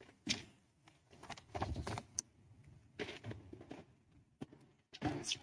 Danielle Bettencourt, U.S. Department of Agriculture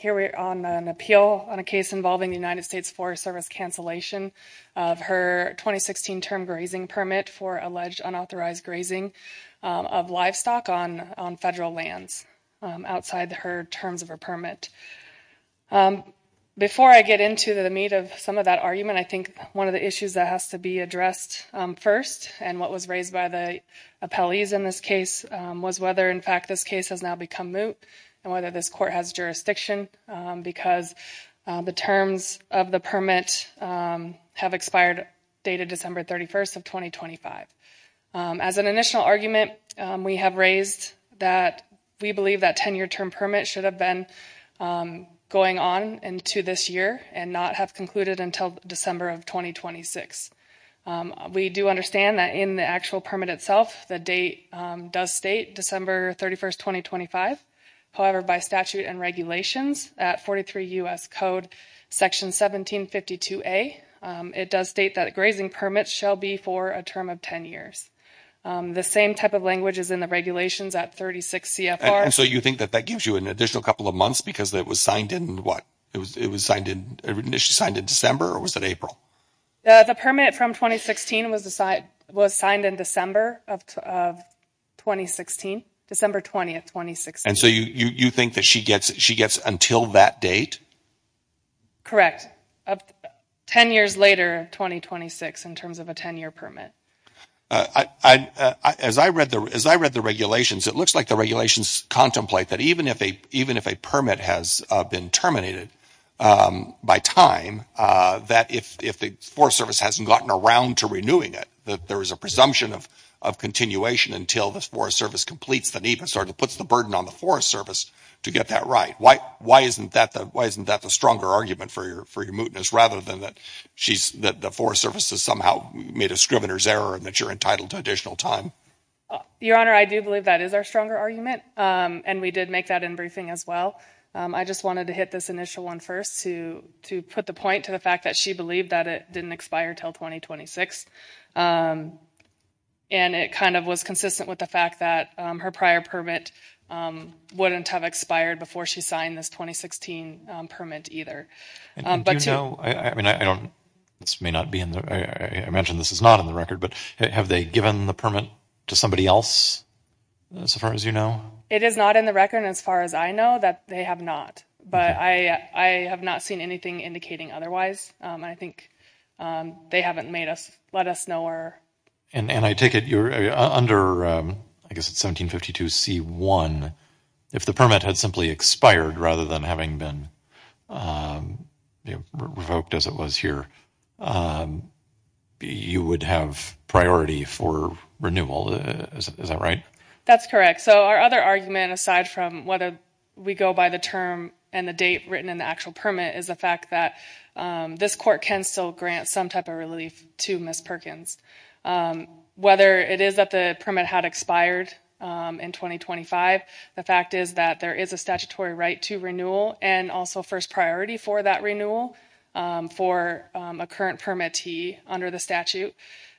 Here we are on an appeal on a case involving the United States Forest Service cancellation of her 2016 term grazing permit for alleged unauthorized grazing of livestock on federal lands outside her terms of her permit. Before I get into the meat of some of that argument, I think one of the issues that has to be addressed first and what was raised by the appellees in this case was whether in fact this case has now become moot and whether this court has jurisdiction because the terms of the permit have expired dated December 31st of 2025. As an initial argument, we have raised that we believe that 10-year term permit should have been going on into this year and not have concluded until December of 2026. We do understand that in the actual permit itself, the date does state December 31st, 2025. However, by statute and regulations at 43 U.S. Code Section 1752A, it does state that a grazing permit shall be for a term of 10 years. The same type of language is in the regulations at 36 CFR. And so you think that that gives you an additional couple of months because it was signed in what? It was initially signed in December or was it April? The permit from 2016 was signed in December of 2016, December 20th, 2016. And so you think that she gets until that date? Correct. Ten years later, 2026 in terms of a 10-year permit. As I read the regulations, it looks like the regulations contemplate that even if a permit has been terminated by time, that if the Forest Service hasn't gotten around to renewing it, that there is a presumption of continuation until the Forest Service completes the need and sort of puts the burden on the Forest Service to get that right. Why isn't that the stronger argument for your mootness rather than that the Forest Service has somehow made a scrivener's error and that you're entitled to additional time? Your Honor, I do believe that is our stronger argument and we did make that in briefing as well. I just wanted to hit this initial one first to put the point to the fact that she believed that it didn't expire until 2026. And it kind of was consistent with the fact that her prior permit wouldn't have expired before she signed this 2016 permit either. And do you know, I mean, I don't, this may not be in the, I mentioned this is not in the record, but have they given the permit to somebody else as far as you know? It is not in the record as far as I know that they have not, but I have not seen anything indicating otherwise. I think they haven't made us, let us know. And I take it you're under, I guess it's 1752 C1. If the permit had simply expired rather than having been revoked as it was here, you would have priority for renewal, is that right? That's correct. So our other argument aside from whether we go by the term and the date written in the actual permit is the fact that this court can still grant some type of relief to Ms. Perkins. Whether it is that the permit had expired in 2025, the fact is that there is a statutory right to renewal and also first priority for that renewal for a current permittee under the statute.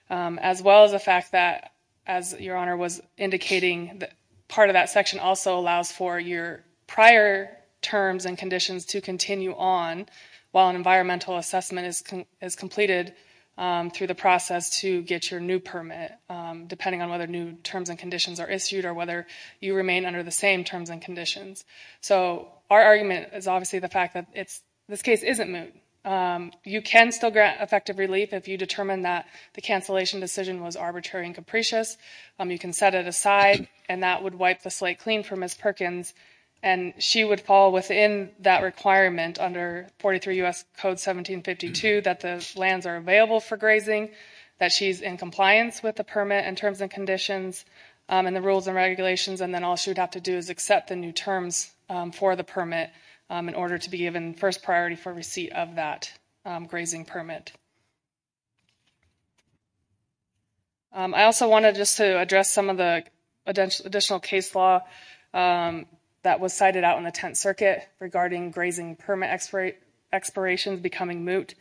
As well as the fact that, as your Honor was indicating, part of that section also allows for your prior terms and conditions to continue on while an environmental assessment is completed through the process to get your new permit. Depending on whether new terms and conditions are issued or whether you remain under the same terms and conditions. So our argument is obviously the fact that this case isn't moot. You can still grant effective relief if you determine that the cancellation decision was arbitrary and capricious. You can set it aside and that would wipe the slate clean for Ms. Perkins. And she would fall within that requirement under 43 U.S. Code 1752 that the lands are available for grazing. That she is in compliance with the permit and terms and conditions and the rules and regulations. And then all she would have to do is accept the new terms for the permit in order to be given first priority for receipt of that grazing permit. I also wanted just to address some of the additional case law that was cited out in the Tenth Circuit regarding grazing permit expirations becoming moot.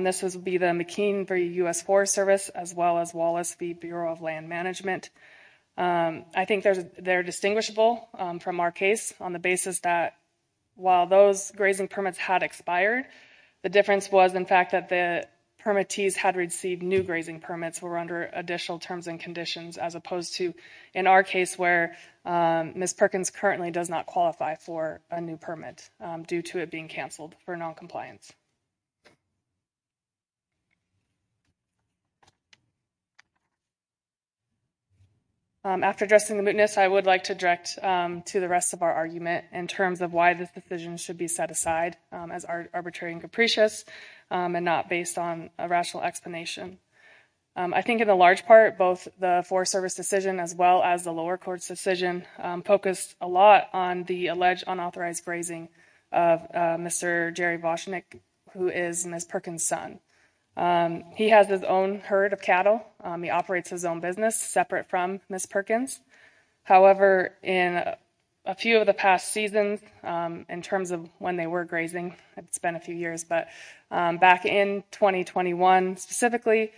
This would be the McKean v. U.S. Forest Service as well as Wallace v. Bureau of Land Management. I think they're distinguishable from our case on the basis that while those grazing permits had expired, the difference was in fact that the permittees had received new grazing permits were under additional terms and conditions as opposed to in our case where Ms. Perkins currently does not qualify for a new permit due to it being canceled for noncompliance. After addressing the mootness, I would like to direct to the rest of our argument in terms of why this decision should be set aside as arbitrary and capricious and not based on a rational explanation. I think in the large part, both the Forest Service decision as well as the lower court's decision focused a lot on the alleged unauthorized grazing of Mr. Jerry Vosnick, who is Ms. Perkins' son. He has his own herd of cattle. He operates his own business separate from Ms. Perkins. However, in a few of the past seasons, in terms of when they were grazing, it's been a few years, but back in 2021 specifically,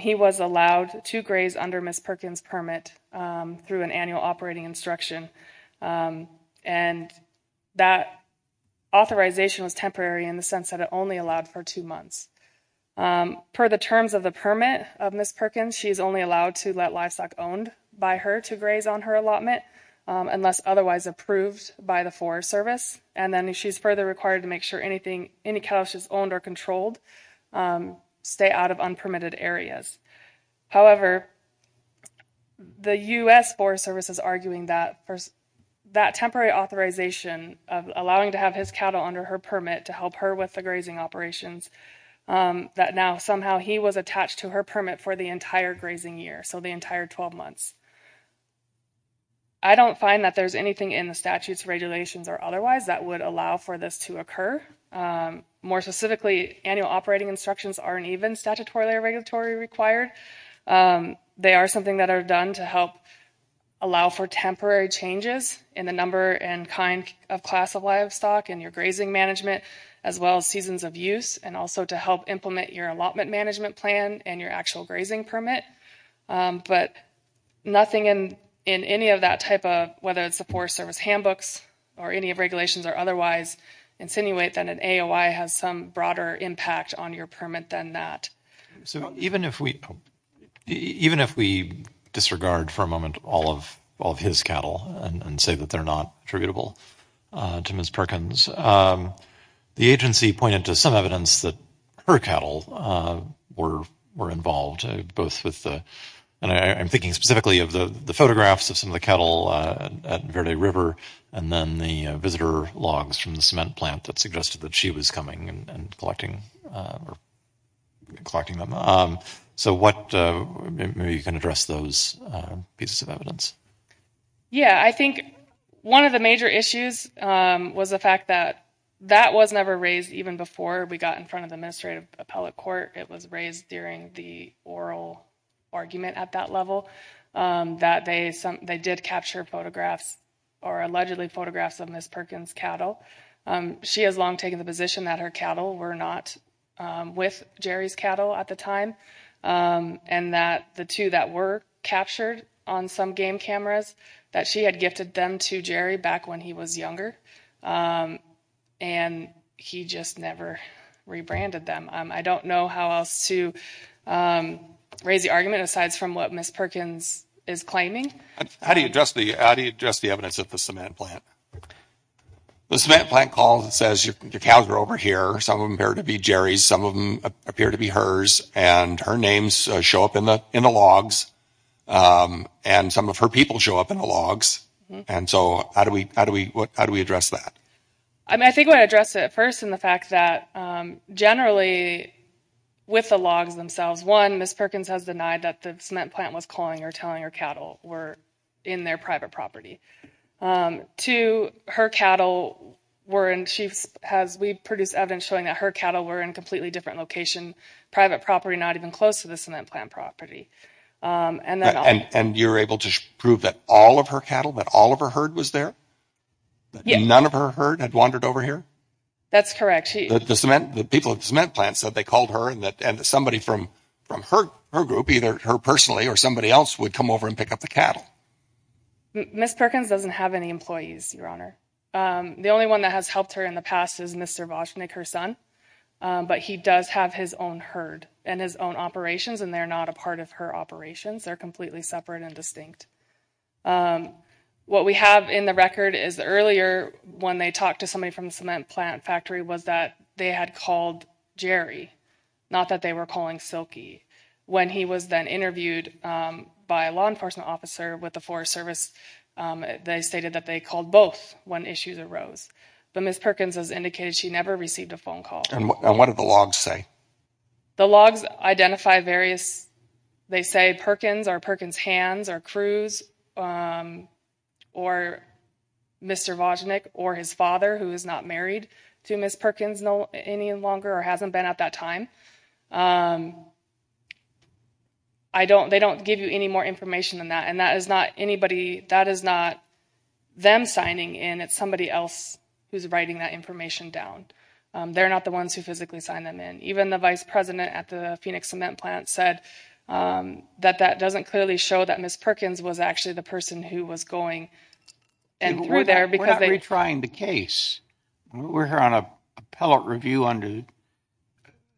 he was allowed to graze under Ms. Perkins' permit through an annual operating instruction. And that authorization was temporary in the sense that it only allowed for two months. Per the terms of the permit of Ms. Perkins, she's only allowed to let livestock owned by her to graze on her allotment unless otherwise approved by the Forest Service. And then she's further required to make sure anything, any cattle she's owned or controlled stay out of unpermitted areas. However, the U.S. Forest Service is arguing that that temporary authorization of allowing to have his cattle under her permit to help her with the grazing operations, that now somehow he was attached to her permit for the entire grazing year, so the entire 12 months. I don't find that there's anything in the statutes, regulations or otherwise that would allow for this to occur. More specifically, annual operating instructions aren't even statutorily or regulatory required. They are something that are done to help allow for temporary changes in the number and kind of class of livestock and your grazing management, as well as seasons of use and also to help implement your allotment management plan and your actual grazing permit. But nothing in any of that type of, whether it's the Forest Service handbooks or any of regulations or otherwise, insinuate that an AOI has some broader impact on your permit than that. So even if we disregard for a moment all of his cattle and say that they're not attributable to Ms. Perkins, the agency pointed to some evidence that her cattle were involved. I'm thinking specifically of the photographs of some of the cattle at Verde River and then the visitor logs from the cement plant that suggested that she was coming and collecting them. So maybe you can address those pieces of evidence. Yeah, I think one of the major issues was the fact that that was never raised even before we got in front of the administrative appellate court. It was raised during the oral argument at that level that they did capture photographs or allegedly photographs of Ms. Perkins' cattle. She has long taken the position that her cattle were not with Jerry's cattle at the time. And that the two that were captured on some game cameras, that she had gifted them to Jerry back when he was younger. And he just never rebranded them. I don't know how else to raise the argument aside from what Ms. Perkins is claiming. How do you address the evidence at the cement plant? The cement plant calls and says your cows are over here. Some of them appear to be Jerry's, some of them appear to be hers. And her names show up in the logs. And some of her people show up in the logs. And so how do we address that? I think I would address it first in the fact that generally with the logs themselves. One, Ms. Perkins has denied that the cement plant was calling or telling her cattle were in their private property. Two, her cattle were in, she has, we've produced evidence showing that her cattle were in completely different locations. Private property, not even close to the cement plant property. And you're able to prove that all of her cattle, that all of her herd was there? None of her herd had wandered over here? That's correct. The cement, the people at the cement plant said they called her and that somebody from her group, either her personally or somebody else would come over and pick up the cattle. Ms. Perkins doesn't have any employees, Your Honor. The only one that has helped her in the past is Mr. Voschnick, her son. But he does have his own herd and his own operations and they're not a part of her operations. They're completely separate and distinct. What we have in the record is earlier when they talked to somebody from the cement plant factory was that they had called Jerry. Not that they were calling Silky. When he was then interviewed by a law enforcement officer with the Forest Service, they stated that they called both when issues arose. But Ms. Perkins has indicated she never received a phone call. And what do the logs say? The logs identify various, they say Perkins or Perkins' hands or Cruz or Mr. Voschnick or his father who is not married to Ms. Perkins any longer or hasn't been at that time. I don't, they don't give you any more information than that. And that is not anybody, that is not them signing in. It's somebody else who's writing that information down. They're not the ones who physically signed them in. Even the vice president at the Phoenix cement plant said that that doesn't clearly show that Ms. Perkins was actually the person who was going in through there. We're not retrying the case. We're here on appellate review under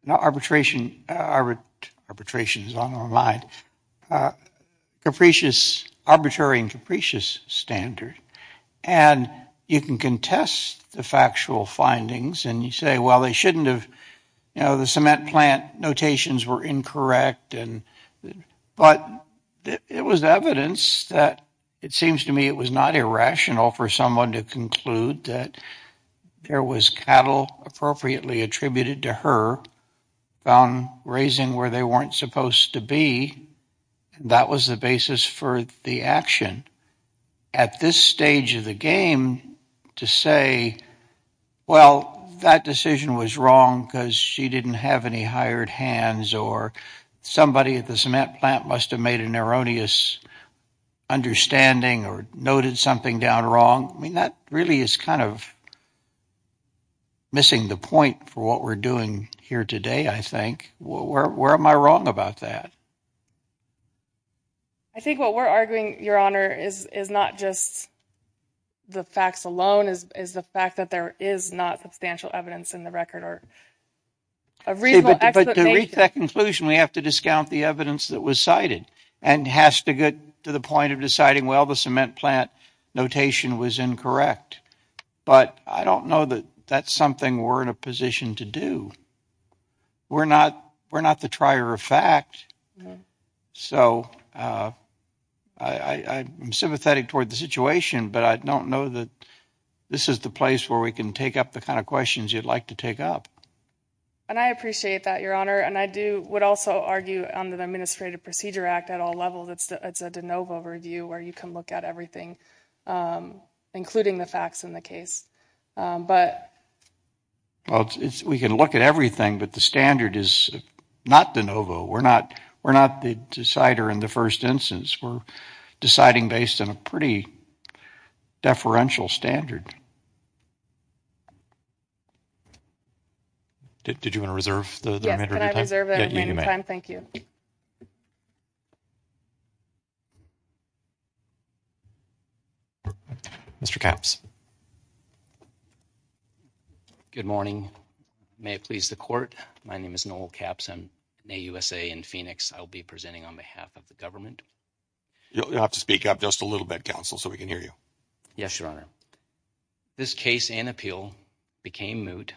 arbitration, arbitration is on the line, capricious, arbitrary and capricious standard. And you can contest the factual findings and you say, well, they shouldn't have, you know, the cement plant notations were incorrect. But it was evidence that it seems to me it was not irrational for someone to conclude that there was cattle appropriately attributed to her found raising where they weren't supposed to be. That was the basis for the action. At this stage of the game to say, well, that decision was wrong because she didn't have any hired hands or somebody at the cement plant must have made an erroneous understanding or noted something down wrong. I mean, that really is kind of missing the point for what we're doing here today, I think. Where am I wrong about that? I think what we're arguing, Your Honor, is is not just the facts alone, is is the fact that there is not substantial evidence in the record or. A reason to reach that conclusion, we have to discount the evidence that was cited and has to get to the point of deciding, well, the cement plant notation was incorrect, but I don't know that that's something we're in a position to do. We're not we're not the trier of fact. So I'm sympathetic toward the situation, but I don't know that this is the place where we can take up the kind of questions you'd like to take up. And I appreciate that, Your Honor, and I do would also argue on the Administrative Procedure Act at all levels. It's a de novo review where you can look at everything, including the facts in the case. Well, we can look at everything, but the standard is not de novo. We're not we're not the decider in the first instance. We're deciding based on a pretty deferential standard. Did you want to reserve the time? Thank you. Mr. Capps. Good morning. May it please the court. My name is Noel Capps. I'm in USA in Phoenix. I'll be presenting on behalf of the government. You'll have to speak up just a little bit, counsel, so we can hear you. Yes, Your Honor. This case and appeal became moot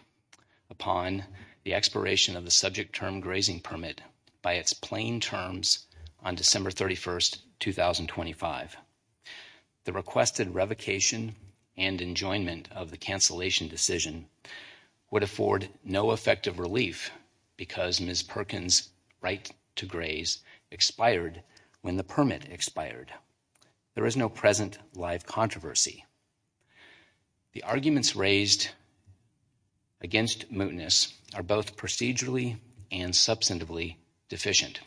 upon the expiration of the subject term grazing permit by its plain terms on December 31st, 2025. The requested revocation and enjoyment of the cancellation decision would afford no effective relief because Ms. Perkins' right to graze expired when the permit expired. There is no present life controversy. The arguments raised against mootness are both procedurally and substantively deficient.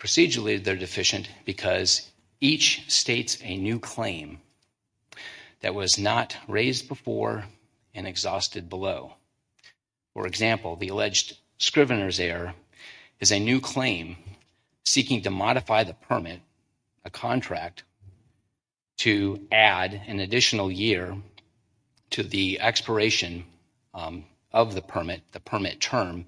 Procedurally, they're deficient because each states a new claim that was not raised before and exhausted below. For example, the alleged scrivener's error is a new claim seeking to modify the permit, a contract, to add an additional year to the expiration of the permit, the permit term,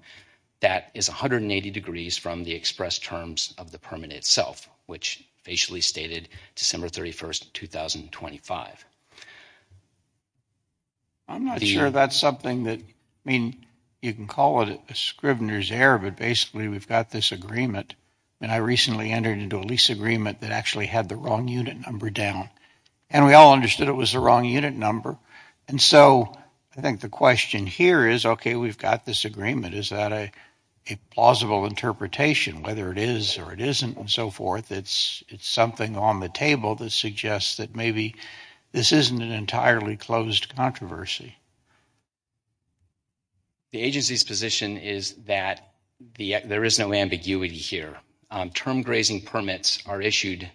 that is 180 degrees from the express terms of the permit itself, which facially stated December 31st, 2025. I'm not sure that's something that, I mean, you can call it a scrivener's error, but basically we've got this agreement. And I recently entered into a lease agreement that actually had the wrong unit number down. And we all understood it was the wrong unit number. And so I think the question here is, okay, we've got this agreement. Is that a plausible interpretation? Whether it is or it isn't and so forth, it's something on the table that suggests that maybe this isn't an entirely closed controversy. The agency's position is that there is no ambiguity here. Term grazing permits are issued,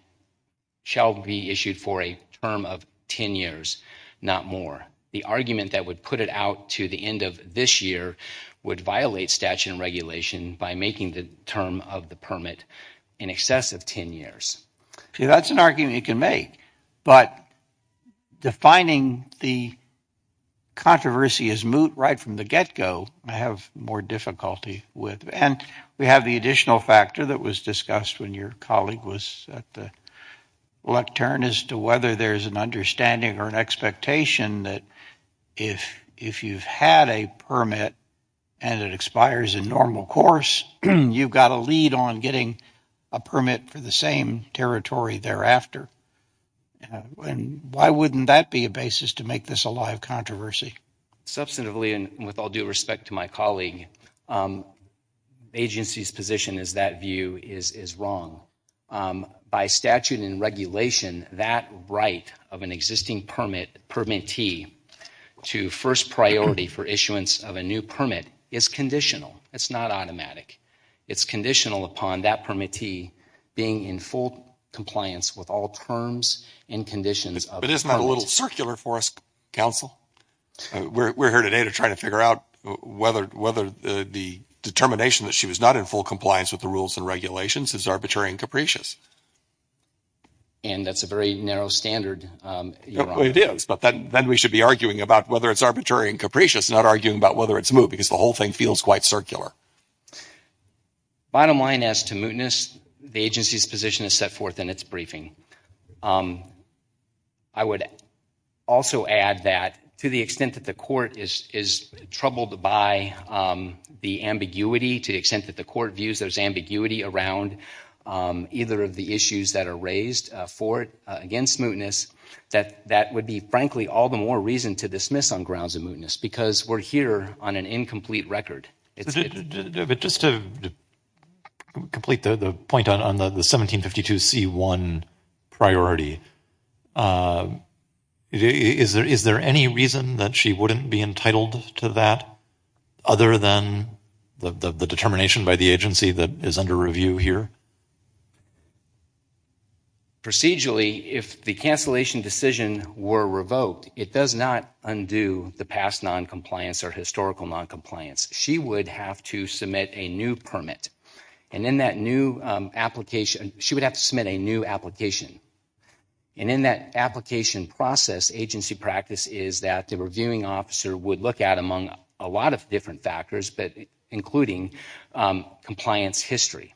shall be issued for a term of 10 years, not more. The argument that would put it out to the end of this year would violate statute and regulation by making the term of the permit in excess of 10 years. See, that's an argument you can make. But defining the controversy as moot right from the get-go, I have more difficulty with. And we have the additional factor that was discussed when your colleague was at the lectern as to whether there's an understanding or an expectation that if you've had a permit and it expires in normal course, you've got a lead on getting a permit for the same territory thereafter. And why wouldn't that be a basis to make this a live controversy? Substantively and with all due respect to my colleague, the agency's position is that view is wrong. By statute and regulation, that right of an existing permittee to first priority for issuance of a new permit is conditional. It's not automatic. It's conditional upon that permittee being in full compliance with all terms and conditions. But isn't that a little circular for us, counsel? We're here today to try to figure out whether the determination that she was not in full compliance with the rules and regulations is arbitrary and capricious. And that's a very narrow standard. It is, but then we should be arguing about whether it's arbitrary and capricious, not arguing about whether it's moot, because the whole thing feels quite circular. Bottom line as to mootness, the agency's position is set forth in its briefing. I would also add that to the extent that the court is troubled by the ambiguity, to the extent that the court views there's ambiguity around either of the issues that are raised for it against mootness, that that would be frankly all the more reason to dismiss on grounds of mootness, because we're here on an incomplete record. But just to complete the point on the 1752C1 priority, is there any reason that she wouldn't be entitled to that other than the determination by the agency that is under review here? Procedurally, if the cancellation decision were revoked, it does not undo the past noncompliance or historical noncompliance. She would have to submit a new permit. And in that new application, she would have to submit a new application. And in that application process, agency practice is that the reviewing officer would look at among a lot of different factors, including compliance history.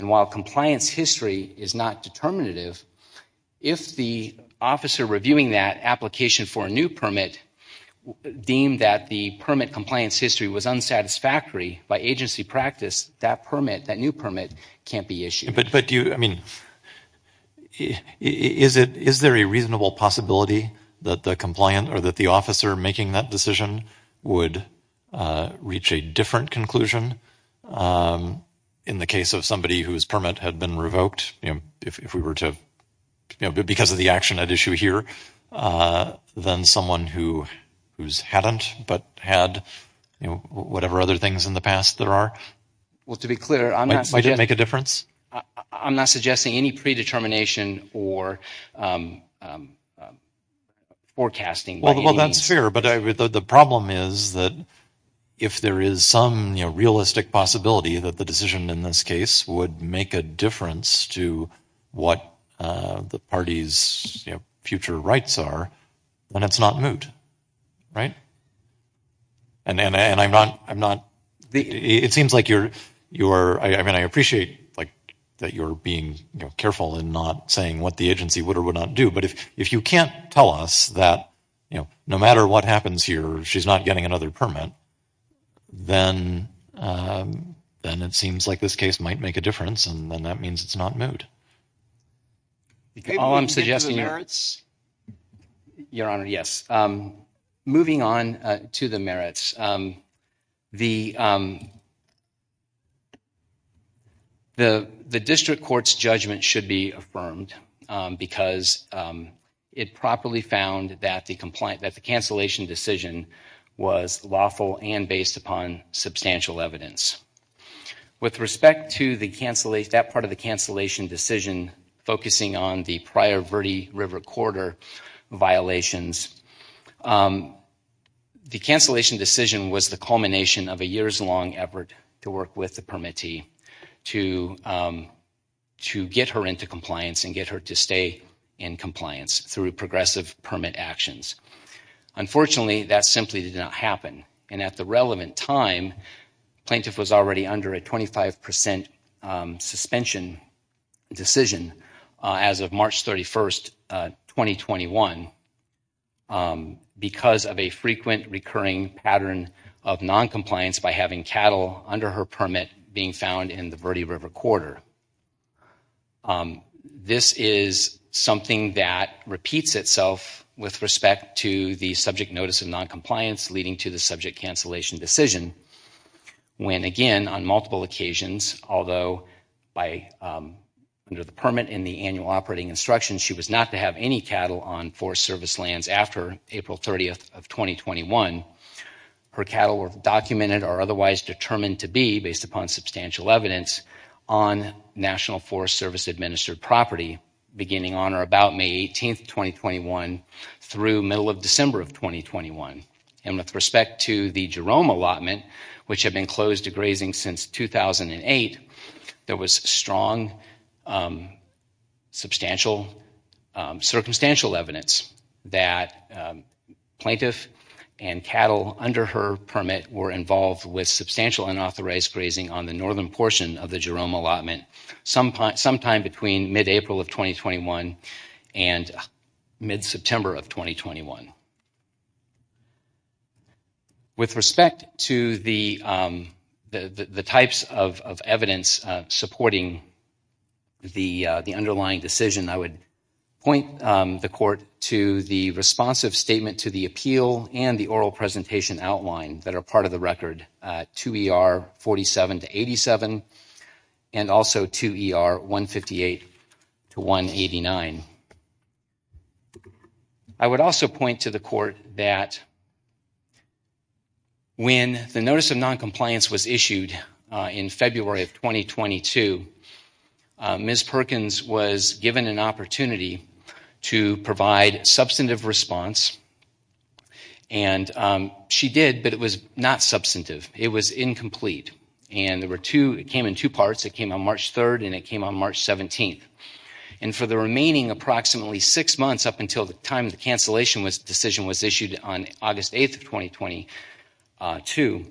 And while compliance history is not determinative, if the officer reviewing that application for a new permit deemed that the permit compliance history was unsatisfactory by agency practice, that permit, that new permit, can't be issued. But do you, I mean, is there a reasonable possibility that the compliant or that the officer making that decision would reach a different conclusion in the case of somebody whose permit had been revoked, if we were to, because of the action at issue here, than someone who's hadn't but had whatever other things in the past there are? Well, to be clear, I'm not... Might it make a difference? I'm not suggesting any predetermination or forecasting. Well, that's fair. But the problem is that if there is some realistic possibility that the decision in this case would make a difference to what the party's future rights are, then it's not moot. And I'm not... It seems like you're... I mean, I appreciate that you're being careful in not saying what the agency would or would not do. But if you can't tell us that no matter what happens here, she's not getting another permit, then it seems like this case might make a difference and then that means it's not moot. All I'm suggesting here... Your Honor, yes. Moving on to the merits, the district court's judgment should be affirmed because it properly found that the cancellation decision was lawful and based upon substantial evidence. With respect to that part of the cancellation decision focusing on the prior Verde River Corridor violations, the cancellation decision was the culmination of a years-long effort to work with the permittee to get her into compliance and get her to stay in compliance through progressive permit actions. Unfortunately, that simply did not happen. And at the relevant time, plaintiff was already under a 25% suspension decision as of March 31st, 2021, because of a frequent recurring pattern of noncompliance by having cattle under her permit being found in the Verde River Corridor. This is something that repeats itself with respect to the subject notice of noncompliance leading to the subject cancellation decision when, again, on multiple occasions, although under the permit and the annual operating instructions, she was not to have any cattle on Forest Service lands after April 30th of 2021. Her cattle were documented or otherwise determined to be, based upon substantial evidence, on National Forest Service administered property beginning on or about May 18th, 2021 through middle of December of 2021. And with respect to the Jerome allotment, which had been closed to grazing since 2008, there was strong circumstantial evidence that plaintiff and cattle under her permit were involved with substantial unauthorized grazing on the northern portion of the Jerome allotment sometime between mid-April of 2021 and mid-September of 2021. With respect to the types of evidence supporting the underlying decision, I would point the Court to the responsive statement to the appeal and the oral presentation outline that are part of the record, 2 ER 47-87 and also 2 ER 158-189. I would also point to the Court that when the notice of noncompliance was issued in February of 2022, Ms. Perkins was given an opportunity to provide substantive response. And she did, but it was not substantive. It was incomplete. And it came in two parts. It came on March 3rd and it came on March 17th. And for the remaining approximately six months up until the time the cancellation decision was issued on August 8th of 2022,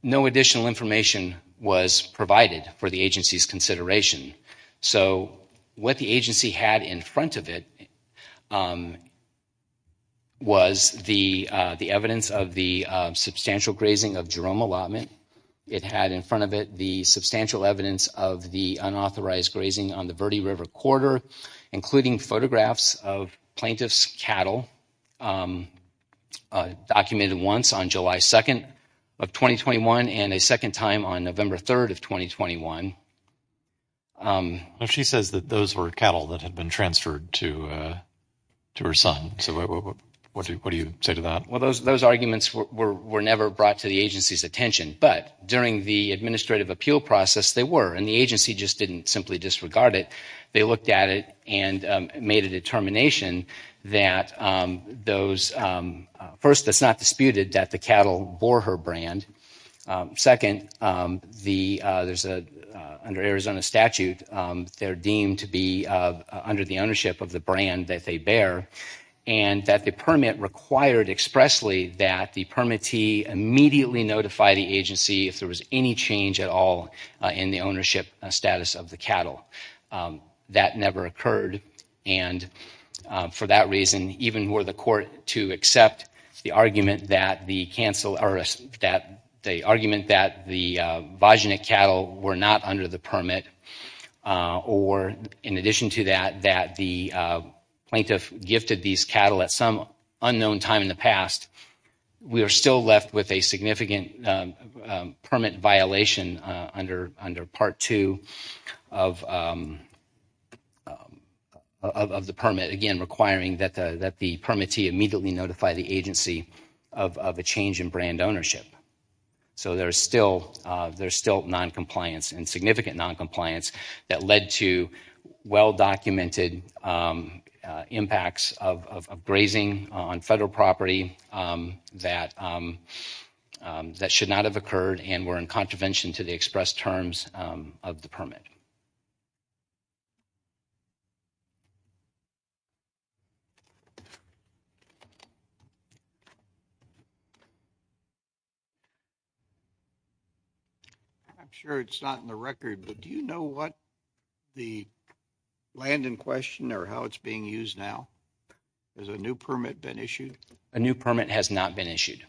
no additional information was provided for the agency's consideration. So what the agency had in front of it was the evidence of the substantial grazing of Jerome allotment. It had in front of it the substantial evidence of the unauthorized grazing on the Verde River corridor, including photographs of plaintiff's cattle documented once on July 2nd of 2021 and a second time on November 3rd of 2021. She says that those were cattle that had been transferred to her son. So what do you say to that? Well, those arguments were never brought to the agency's attention. But during the administrative appeal process, they were. And the agency just didn't simply disregard it. They looked at it and made a determination that those, first, it's not disputed that the cattle bore her brand. Second, under Arizona statute, they're deemed to be under the ownership of the brand that they bear and that the permit required expressly that the permittee immediately notify the agency if there was any change at all in the ownership status of the cattle. That never occurred. And for that reason, even were the court to accept the argument that the Vaginic cattle were not under the permit or in addition to that, that the plaintiff gifted these cattle at some unknown time in the past, we are still left with a significant permit violation under part two of the permit, again, requiring that the permittee immediately notify the agency of a change in brand ownership. So there's still noncompliance and significant noncompliance that led to well-documented impacts of grazing on federal property that should not have occurred and were in contravention to the express terms of the permit. I'm sure it's not in the record, but do you know what the land in question or how it's being used now? Has a new permit been issued? A new permit has not been issued.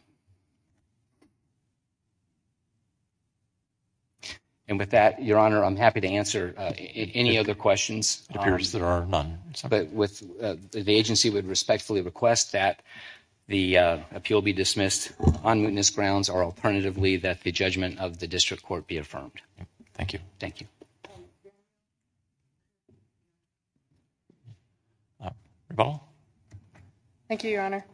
And with that, Your Honor, I'm happy to answer any other questions. It appears there are none. But the agency would respectfully request that the appeal be dismissed on mootness grounds or alternatively that the judgment of the district court be affirmed. Thank you. Thank you. Thank you, Your Honor.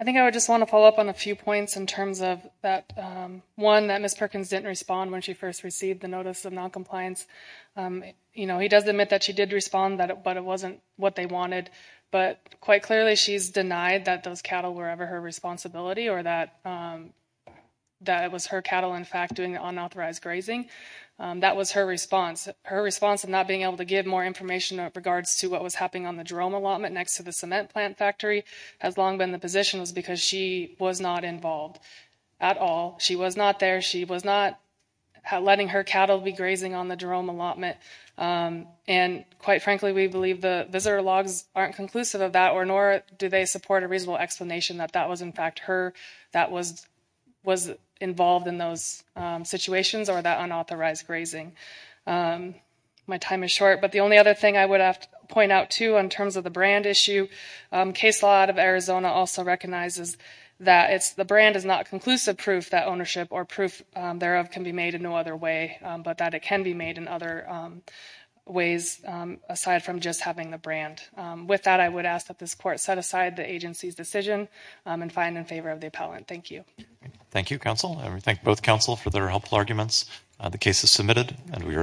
I think I would just want to follow up on a few points in terms of that, one, that Ms. Perkins didn't respond when she first received the notice of noncompliance. You know, he does admit that she did respond, but it wasn't what they wanted. But quite clearly, she's denied that those cattle were ever her responsibility or that it was her cattle, in fact, doing the unauthorized grazing. That was her response. Her response of not being able to give more information in regards to what was happening on the Jerome allotment next to the cement plant factory has long been the position was because she was not involved at all. She was not there. She was not letting her cattle be grazing on the Jerome allotment. And quite frankly, we believe the visitor logs aren't conclusive of that, nor do they support a reasonable explanation that that was, in fact, her that was involved in those situations or that unauthorized grazing. My time is short. But the only other thing I would have to point out, too, in terms of the brand issue, case law out of Arizona also recognizes that the brand is not conclusive proof that ownership or proof thereof can be made in no other way, but that it can be made in other ways aside from just having the brand. With that, I would ask that this Court set aside the agency's decision and find in favor of the appellant. Thank you. Thank you, counsel. And we thank both counsel for their helpful arguments. The case is submitted, and we are adjourned.